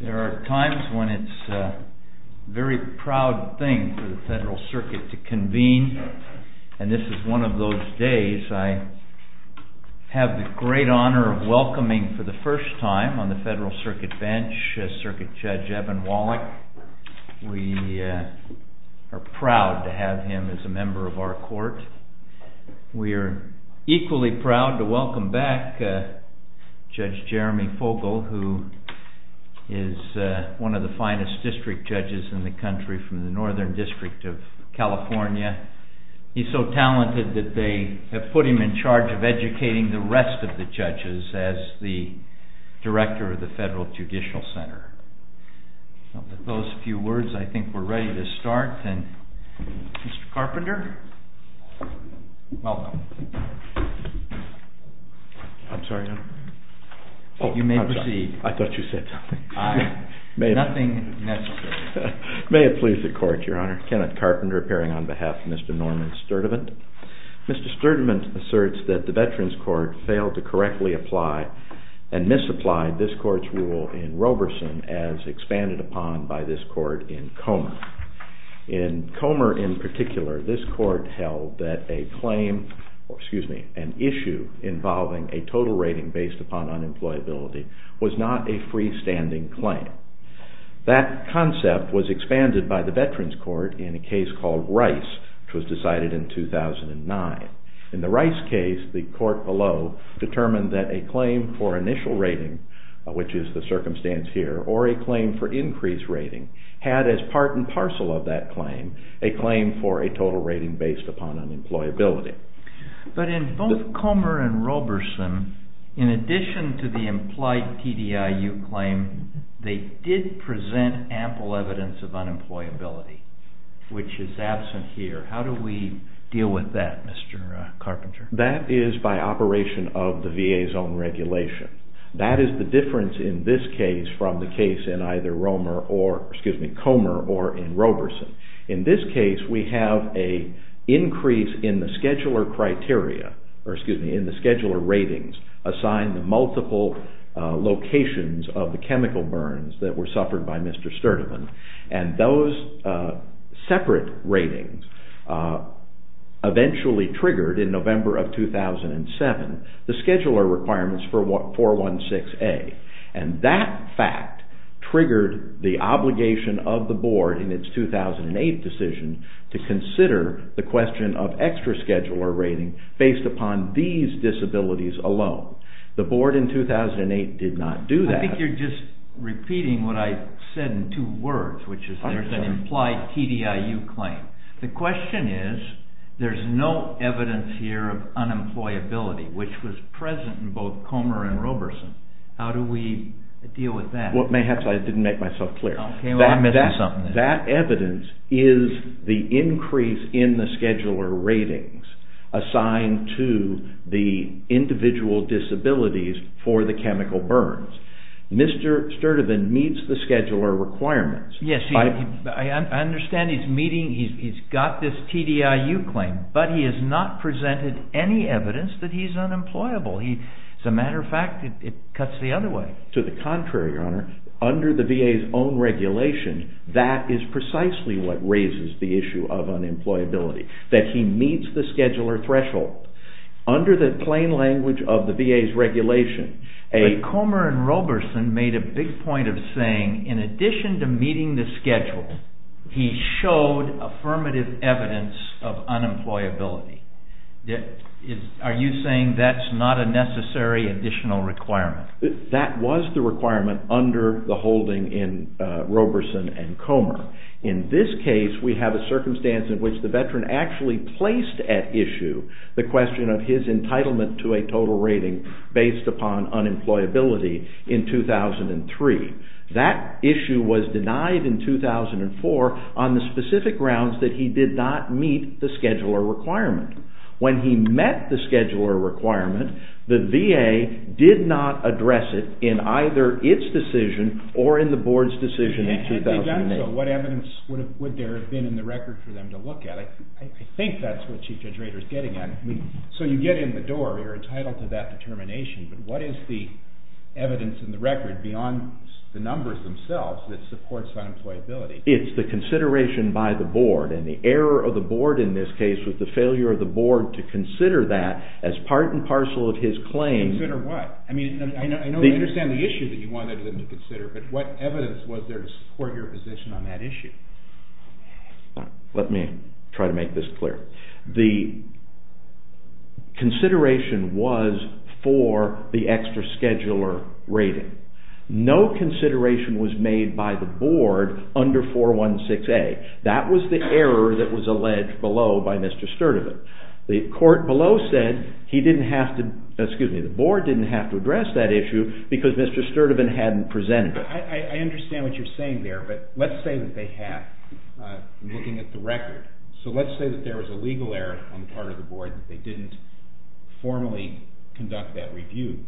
There are times when it's a very proud thing for the Federal Circuit to convene, and this is one of those days. I have the great honor of welcoming for the first time on the Federal Circuit bench, Circuit Judge Evan Wallach. We are proud to have him as a member of our court. We are equally proud to welcome back Judge Jeremy Fogle, who is one of the finest district judges in the country from the Northern District of California. He's so talented that they have put him in charge of educating the rest of the judges as the director of the Federal Judicial Center. With those few words, I think we're ready to start. Mr. Carpenter, welcome. I'm sorry, Your Honor. You may proceed. I thought you said something. Nothing necessary. May it please the Court, Your Honor. Kenneth Carpenter appearing on behalf of Mr. Norman Sturdivant. Mr. Sturdivant asserts that the Veterans Court failed to correctly apply and misapply this Court's rule in Roberson as expanded upon by this Court in Comer. In Comer in particular, this Court held that an issue involving a total rating based upon unemployability was not a freestanding claim. That concept was expanded by the Veterans Court in a case called Rice, which was decided in 2009. In the Rice case, the Court below determined that a claim for initial rating, which is the circumstance here, or a claim for increased rating had as part and parcel of that claim a claim for a total rating based upon unemployability. But in both Comer and Roberson, in addition to the implied TDIU claim, they did present ample evidence of unemployability, which is absent here. How do we deal with that, Mr. Carpenter? That is by operation of the VA's own regulation. That is the difference in this case from the case in either Comer or in Roberson. In this case, we have an increase in the scheduler ratings assigned to multiple locations of the chemical burns that were suffered by Mr. Sturdivant. Those separate ratings eventually triggered, in November of 2007, the scheduler requirements for 416A. That fact triggered the obligation of the Board in its 2008 decision to consider the question of extra scheduler rating based upon these disabilities alone. The Board in 2008 did not do that. I think you're just repeating what I said in two words, which is there's an implied TDIU claim. The question is, there's no evidence here of unemployability, which was present in both Comer and Roberson. How do we deal with that? I didn't make myself clear. That evidence is the increase in the scheduler ratings assigned to the individual disabilities for the chemical burns. Mr. Sturdivant meets the scheduler requirements. I understand he's got this TDIU claim, but he has not presented any evidence that he's unemployable. As a matter of fact, it cuts the other way. To the contrary, Your Honor, under the VA's own regulation, that is precisely what raises the issue of unemployability, that he meets the scheduler threshold. Under the plain language of the VA's regulation... Mr. Comer and Roberson made a big point of saying, in addition to meeting the schedule, he showed affirmative evidence of unemployability. Are you saying that's not a necessary additional requirement? That was the requirement under the holding in Roberson and Comer. In this case, we have a circumstance in which the veteran actually placed at issue the question of his entitlement to a total rating based upon unemployability in 2003. That issue was denied in 2004 on the specific grounds that he did not meet the scheduler requirement. When he met the scheduler requirement, the VA did not address it in either its decision or in the board's decision in 2008. Had they done so, what evidence would there have been in the record for them to look at? I think that's what Chief Judge Rader is getting at. So you get in the door, you're entitled to that determination, but what is the evidence in the record beyond the numbers themselves that supports unemployability? It's the consideration by the board, and the error of the board in this case was the failure of the board to consider that as part and parcel of his claim. Consider what? I know you understand the issue that you wanted them to consider, but what evidence was there to support your position on that issue? Let me try to make this clear. The consideration was for the extra scheduler rating. No consideration was made by the board under 416A. That was the error that was alleged below by Mr. Sturtevant. The board didn't have to address that issue because Mr. Sturtevant hadn't presented it. I understand what you're saying there, but let's say that they have, looking at the record. So let's say that there was a legal error on the part of the board that they didn't formally conduct that review.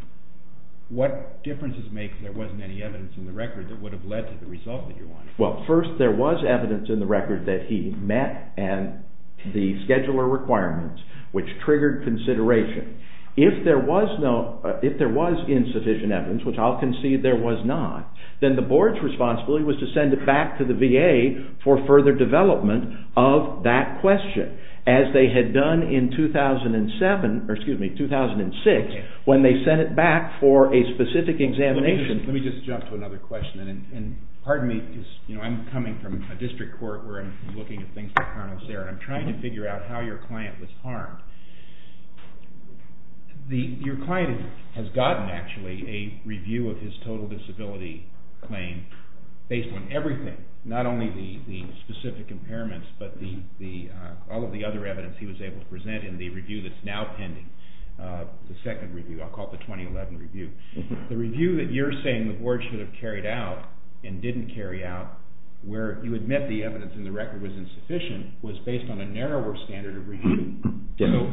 What differences make that there wasn't any evidence in the record that would have led to the result that you wanted? Well, first, there was evidence in the record that he met the scheduler requirements, which triggered consideration. If there was insufficient evidence, which I'll concede there was not, then the board's responsibility was to send it back to the VA for further development of that question, as they had done in 2006 when they sent it back for a specific examination. Let me just jump to another question. And pardon me, because I'm coming from a district court where I'm looking at things like carnal assailant. I'm trying to figure out how your client was harmed. Your client has gotten, actually, a review of his total disability claim based on everything, not only the specific impairments, but all of the other evidence he was able to present in the review that's now pending, the second review. I'll call it the 2011 review. The review that you're saying the board should have carried out and didn't carry out, where you admit the evidence in the record was insufficient, was based on a narrower standard of review.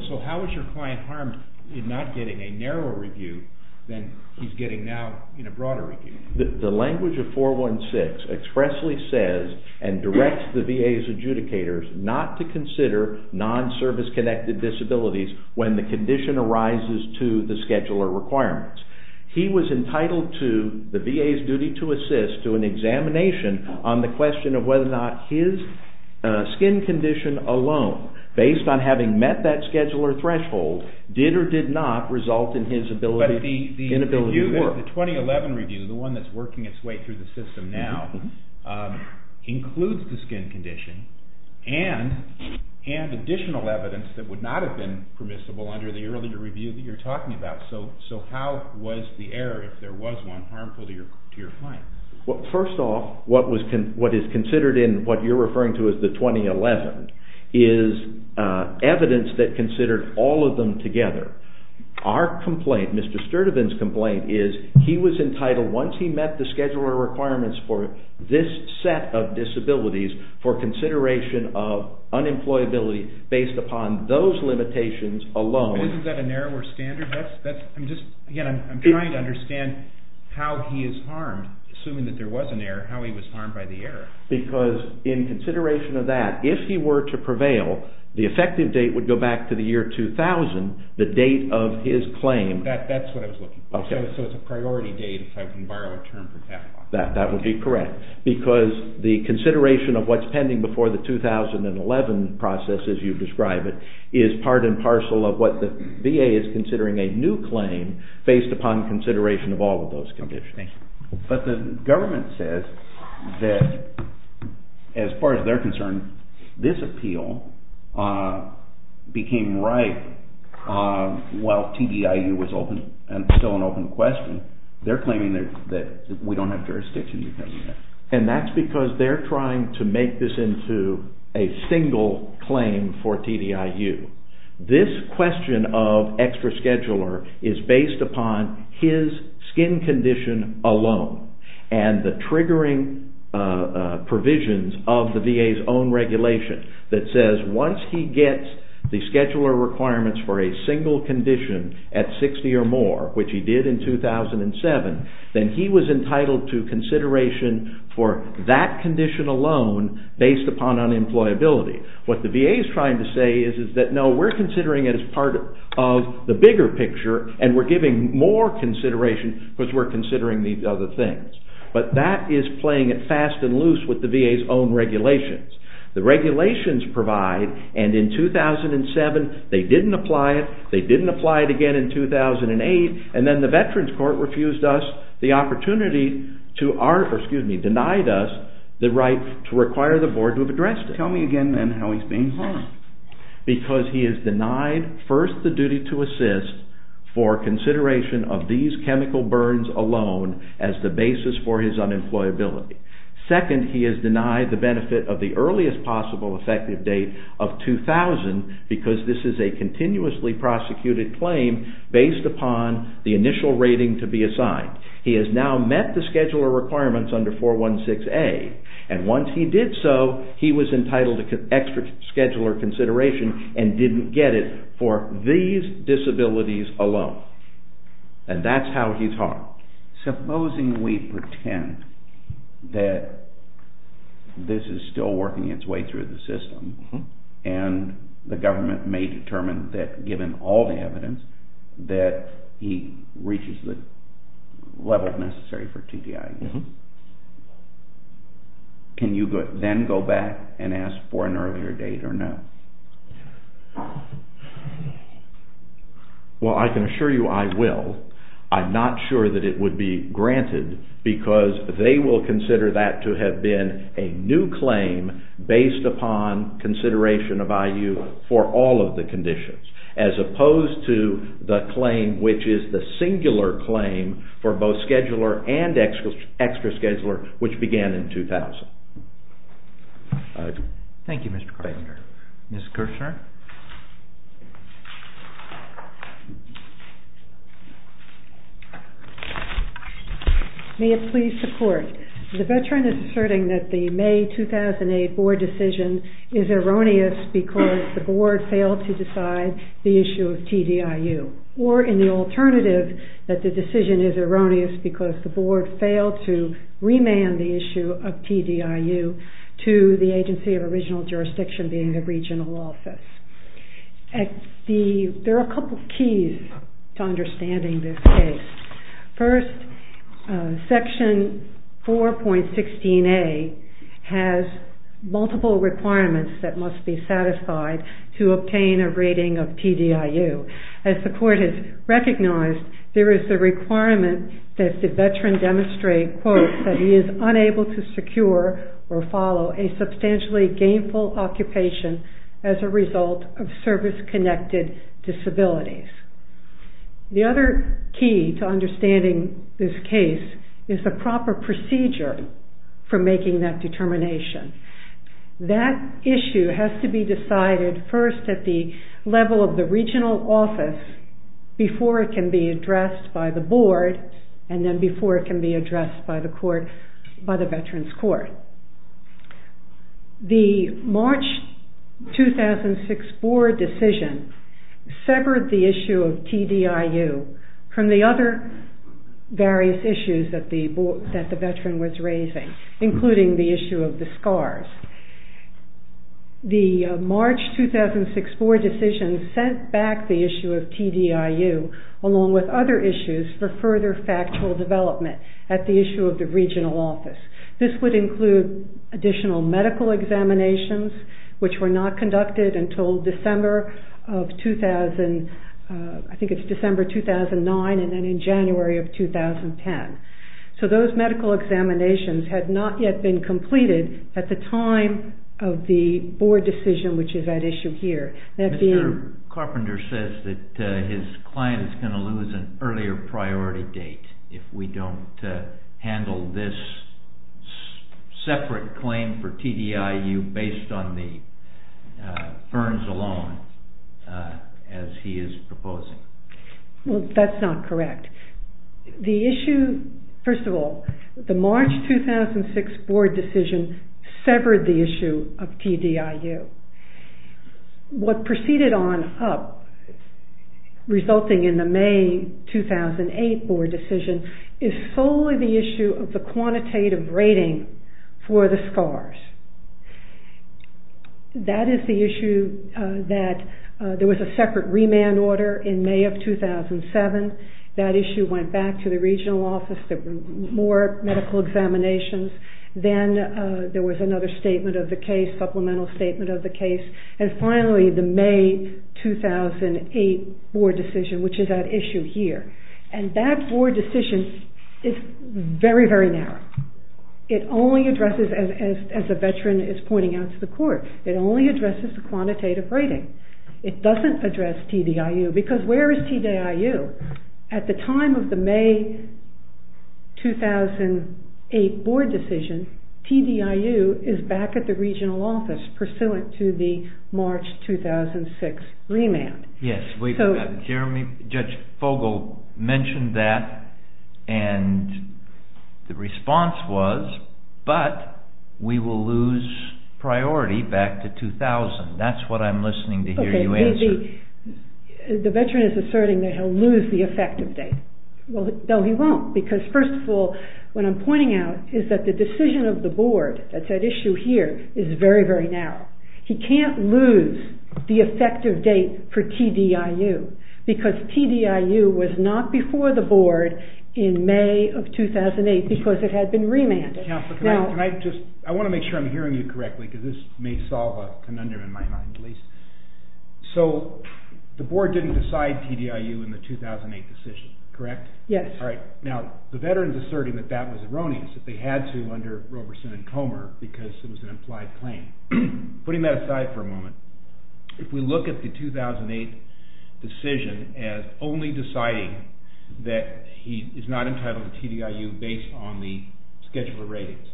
So how is your client harmed in not getting a narrower review than he's getting now in a broader review? The language of 416 expressly says and directs the VA's adjudicators not to consider non-service-connected disabilities when the condition arises to the scheduler requirements. He was entitled to the VA's duty to assist to an examination on the question of whether or not his skin condition alone, based on having met that scheduler threshold, did or did not result in his inability to work. So the 2011 review, the one that's working its way through the system now, includes the skin condition and additional evidence that would not have been permissible under the earlier review that you're talking about. So how was the error, if there was one, harmful to your client? First off, what is considered in what you're referring to as the 2011 is evidence that considered all of them together. Our complaint, Mr. Sturdivant's complaint, is he was entitled, once he met the scheduler requirements for this set of disabilities, for consideration of unemployability based upon those limitations alone. Isn't that a narrower standard? Again, I'm trying to understand how he is harmed, assuming that there was an error, how he was harmed by the error. Because in consideration of that, if he were to prevail, the effective date would go back to the year 2000, the date of his claim. That's what I was looking for. So it's a priority date, if I can borrow a term from Cathal. That would be correct. Because the consideration of what's pending before the 2011 process, as you've described it, is part and parcel of what the VA is considering a new claim based upon consideration of all of those conditions. But the government says that, as far as they're concerned, this appeal became right while TDIU was open and still an open question. They're claiming that we don't have jurisdiction because of that. And that's because they're trying to make this into a single claim for TDIU. This question of extra scheduler is based upon his skin condition alone. And the triggering provisions of the VA's own regulation that says once he gets the scheduler requirements for a single condition at 60 or more, which he did in 2007, then he was entitled to consideration for that condition alone based upon unemployability. What the VA is trying to say is that no, we're considering it as part of the bigger picture and we're giving more consideration because we're considering these other things. But that is playing it fast and loose with the VA's own regulations. The regulations provide, and in 2007 they didn't apply it, they didn't apply it again in 2008, and then the Veterans Court refused us the opportunity, or excuse me, denied us the right to require the board to have addressed it. Tell me again then how he's being harmed. One, because he is denied first the duty to assist for consideration of these chemical burns alone as the basis for his unemployability. Second, he is denied the benefit of the earliest possible effective date of 2000 because this is a continuously prosecuted claim based upon the initial rating to be assigned. He has now met the scheduler requirements under 416A, and once he did so, he was entitled to extra scheduler consideration and didn't get it for these disabilities alone. And that's how he's harmed. Now, supposing we pretend that this is still working its way through the system and the government may determine that given all the evidence that he reaches the level necessary for TDI, can you then go back and ask for an earlier date or no? Well, I can assure you I will. I'm not sure that it would be granted because they will consider that to have been a new claim based upon consideration of IU for all of the conditions as opposed to the claim which is the singular claim for both scheduler and extra scheduler which began in 2000. Thank you, Mr. Carpenter. Thank you. Ms. Kirshner. May it please the court. The veteran is asserting that the May 2008 board decision is erroneous because the board failed to decide the issue of TDIU or in the alternative that the decision is erroneous because the board failed to remand the issue of TDIU to the agency of original jurisdiction being the regional office. There are a couple of keys to understanding this case. First, section 4.16A has multiple requirements that must be satisfied to obtain a rating of TDIU. As the court has recognized, there is a requirement that the veteran demonstrate, quote, that he is unable to secure or follow a substantially gainful occupation as a result of service-connected disabilities. The other key to understanding this case is the proper procedure for making that determination. That issue has to be decided first at the level of the regional office before it can be addressed by the board and then before it can be addressed by the veterans court. The March 2006 board decision severed the issue of TDIU from the other various issues that the veteran was raising, including the issue of the scars. The March 2006 board decision sent back the issue of TDIU along with other issues for further factual development at the issue of the regional office. This would include additional medical examinations, which were not conducted until December 2009 and then in January 2010. Those medical examinations had not yet been completed at the time of the board decision, which is at issue here. Mr. Carpenter says that his client is going to lose an earlier priority date if we don't handle this separate claim for TDIU based on the ferns alone, as he is proposing. Well, that's not correct. The issue, first of all, the March 2006 board decision severed the issue of TDIU. What proceeded on up, resulting in the May 2008 board decision, is solely the issue of the quantitative rating for the scars. That is the issue that there was a separate remand order in May of 2007. That issue went back to the regional office. There were more medical examinations. Then there was another statement of the case, supplemental statement of the case, and finally the May 2008 board decision, which is at issue here. And that board decision is very, very narrow. It only addresses, as the veteran is pointing out to the court, it only addresses the quantitative rating. It doesn't address TDIU, because where is TDIU? At the time of the May 2008 board decision, TDIU is back at the regional office, pursuant to the March 2006 remand. Yes, Judge Fogle mentioned that, and the response was, but we will lose priority back to 2000. That's what I'm listening to hear you answer. The veteran is asserting that he'll lose the effective date. Well, no, he won't, because first of all, what I'm pointing out is that the decision of the board, that's at issue here, is very, very narrow. He can't lose the effective date for TDIU, because TDIU was not before the board in May of 2008, because it had been remanded. Counselor, can I just, I want to make sure I'm hearing you correctly, because this may solve a conundrum in my mind at least. So, the board didn't decide TDIU in the 2008 decision, correct? Yes. All right. Now, the veteran is asserting that that was erroneous, that they had to under Roberson and Comer, because it was an implied claim. Putting that aside for a moment, if we look at the 2008 decision as only deciding that he is not entitled to TDIU based on the scheduler ratings,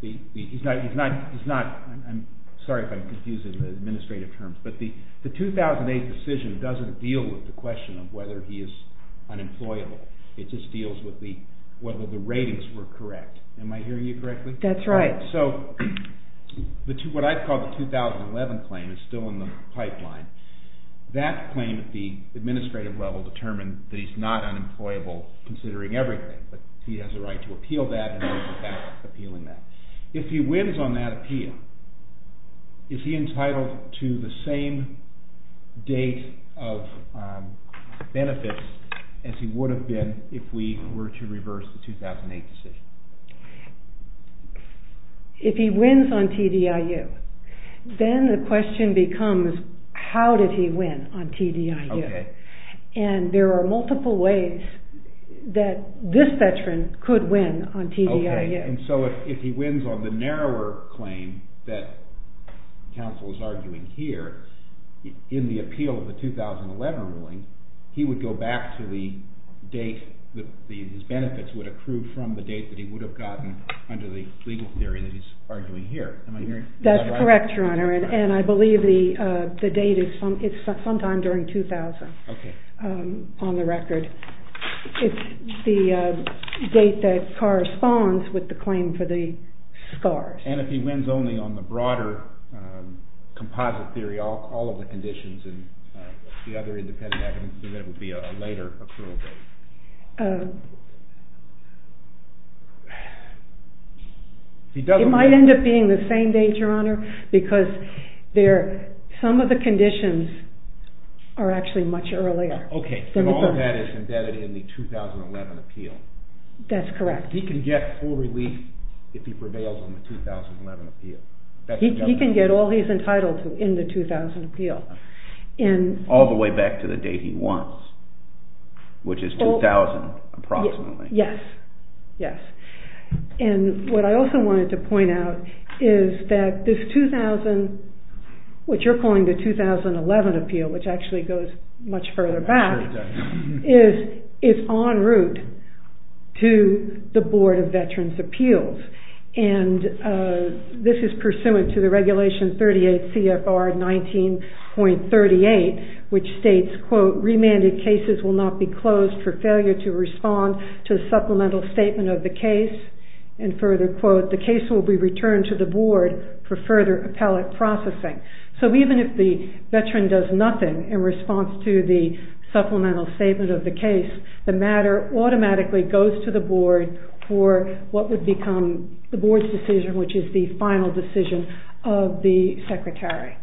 he's not, I'm sorry if I'm confusing the administrative terms, but the 2008 decision doesn't deal with the question of whether he is unemployable. It just deals with whether the ratings were correct. Am I hearing you correctly? That's right. So, what I call the 2011 claim is still in the pipeline. That claim at the administrative level determined that he's not unemployable considering everything, but he has a right to appeal that and he's back appealing that. If he wins on that appeal, is he entitled to the same date of benefits as he would have been if we were to reverse the 2008 decision? If he wins on TDIU, then the question becomes, how did he win on TDIU? Okay. And there are multiple ways that this veteran could win on TDIU. Okay. And so if he wins on the narrower claim that counsel is arguing here, in the appeal of the 2011 ruling, he would go back to the date, his benefits would accrue from the date that he would have gotten under the legal theory that he's arguing here. Am I hearing? That's correct, Your Honor. And I believe the date is sometime during 2000. Okay. On the record. It's the date that corresponds with the claim for the scars. And if he wins only on the broader composite theory, all of the conditions and the other independent evidence, then it would be a later accrual date. It might end up being the same date, Your Honor, because some of the conditions are actually much earlier. Okay. And all of that is embedded in the 2011 appeal. That's correct. He can get full relief if he prevails on the 2011 appeal. He can get all he's entitled to in the 2011 appeal. All the way back to the date he won, which is 2000 approximately. Yes. Yes. And what I also wanted to point out is that this 2000, what you're calling the 2011 appeal, which actually goes much further back, is en route to the Board of Veterans' Appeals. And this is pursuant to the Regulation 38 CFR 19.38, which states, quote, Remanded cases will not be closed for failure to respond to the supplemental statement of the case. And further, quote, The case will be returned to the Board for further appellate processing. So even if the veteran does nothing in response to the supplemental statement of the case, the matter automatically goes to the Board for what would become the Board's decision, which is the final decision of the Secretary.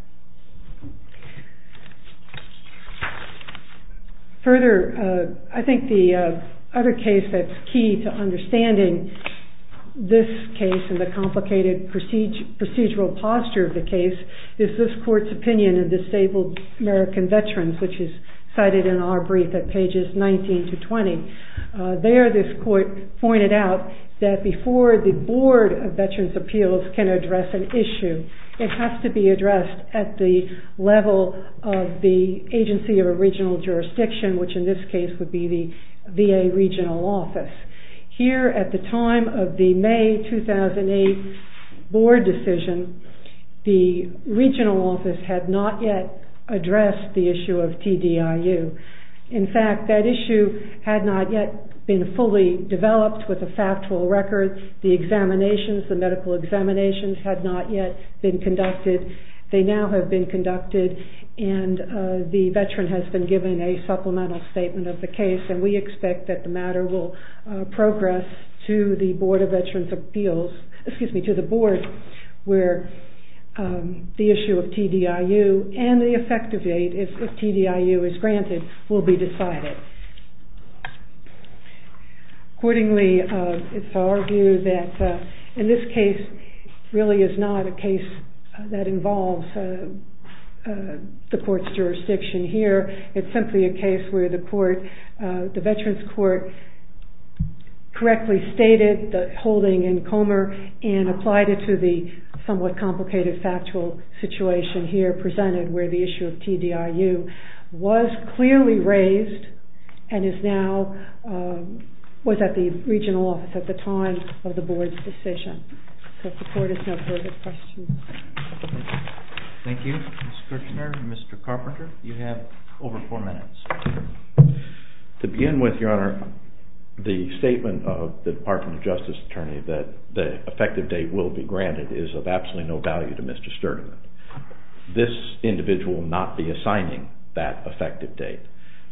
Further, I think the other case that's key to understanding this case and the complicated procedural posture of the case is this court's opinion in Disabled American Veterans, which is cited in our brief at pages 19 to 20. There, this court pointed out that before the Board of Veterans' Appeals can address an issue, it has to be addressed at the level of the agency or regional jurisdiction, which in this case would be the VA regional office. Here, at the time of the May 2008 Board decision, the regional office had not yet addressed the issue of TDIU. In fact, that issue had not yet been fully developed with the factual records. The examinations, the medical examinations had not yet been conducted. They now have been conducted, and the veteran has been given a supplemental statement of the case, and we expect that the matter will progress to the Board of Veterans' Appeals, excuse me, to the Board, where the issue of TDIU and the effective date, if TDIU is granted, will be decided. Accordingly, it's our view that in this case, it really is not a case that involves the court's jurisdiction. Here, it's simply a case where the veterans' court correctly stated the holding in Comer and applied it to the somewhat complicated factual situation here presented, where the issue of TDIU was clearly raised and is now, was at the regional office at the time of the Board's decision. So if the court has no further questions. Thank you. Mr. Kirchner, Mr. Carpenter, you have over four minutes. To begin with, Your Honor, the statement of the Department of Justice attorney that the effective date will be granted is of absolutely no value to Mr. Sturgeon. This individual will not be assigning that effective date.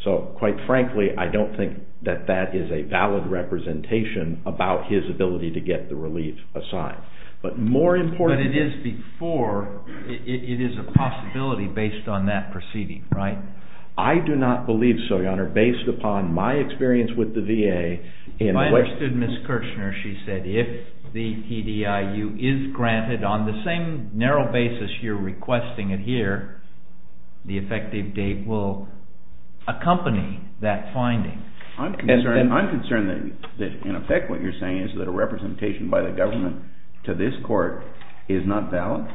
So, quite frankly, I don't think that that is a valid representation about his ability to get the relief assigned. But more important... But it is before, it is a possibility based on that proceeding, right? I do not believe so, Your Honor, based upon my experience with the VA... If I understood Ms. Kirchner, she said if the TDIU is granted on the same narrow basis you're requesting it here, the effective date will accompany that finding. I'm concerned that in effect what you're saying is that a representation by the government to this court is not valid.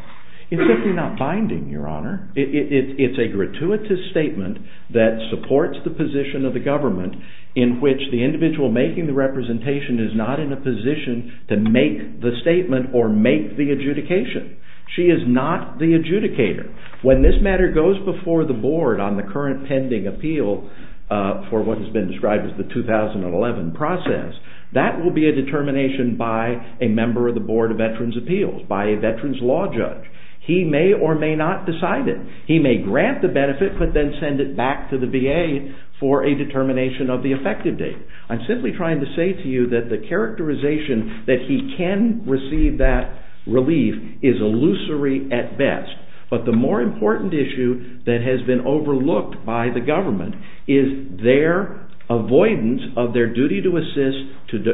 It's simply not binding, Your Honor. It's a gratuitous statement that supports the position of the government in which the individual making the representation is not in a position to make the statement or make the adjudication. She is not the adjudicator. When this matter goes before the board on the current pending appeal for what has been described as the 2011 process, that will be a determination by a member of the Board of Veterans' Appeals, by a veterans' law judge. He may or may not decide it. He may grant the benefit but then send it back to the VA for a determination of the effective date. I'm simply trying to say to you that the characterization that he can receive that relief is illusory at best. But the more important issue that has been overlooked by the government is their avoidance of their duty to assist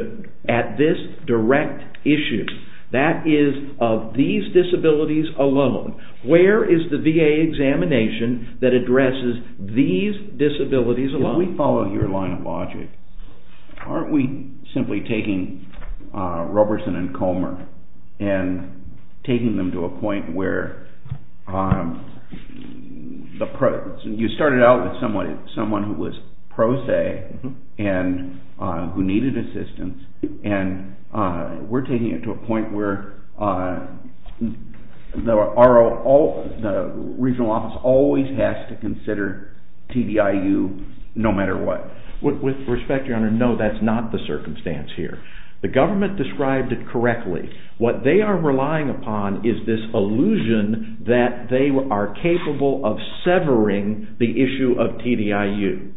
at this direct issue. That is of these disabilities alone. Where is the VA examination that addresses these disabilities alone? If we follow your line of logic, aren't we simply taking Roberson and Comer and taking them to a point where you started out with someone who was pro se and who needed assistance and we're taking it to a point where the regional office always has to consider TDIU no matter what. With respect, your honor, no, that's not the circumstance here. The government described it correctly. What they are relying upon is this illusion that they are capable of severing the issue of TDIU.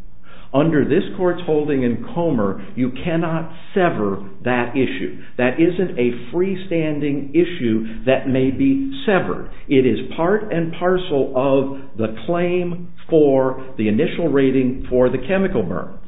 Under this court's holding in Comer, you cannot sever that issue. That isn't a freestanding issue that may be severed. It is part and parcel of the claim for the initial rating for the chemical burns.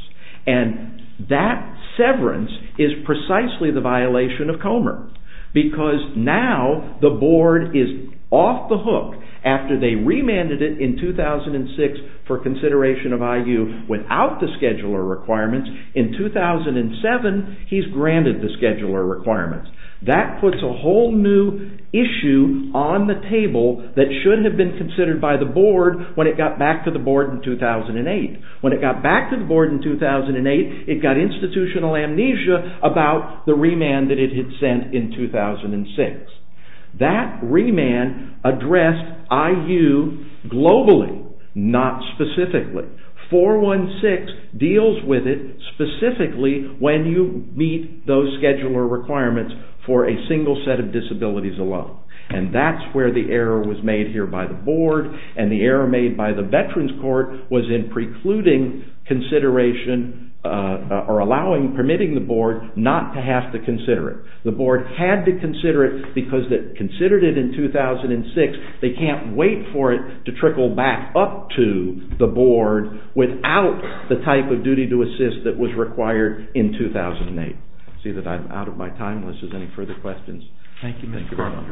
And that severance is precisely the violation of Comer. Because now the board is off the hook after they remanded it in 2006 for consideration of IU without the scheduler requirements. In 2007, he's granted the scheduler requirements. That puts a whole new issue on the table that should have been considered by the board when it got back to the board in 2008. When it got back to the board in 2008, it got institutional amnesia about the remand that it had sent in 2006. That remand addressed IU globally, not specifically. 416 deals with it specifically when you meet those scheduler requirements for a single set of disabilities alone. And that's where the error was made here by the board. And the error made by the Veterans Court was in precluding consideration or permitting the board not to have to consider it. The board had to consider it because it considered it in 2006. They can't wait for it to trickle back up to the board without the type of duty to assist that was required in 2008. I see that I'm out of my time. Unless there's any further questions. Thank you.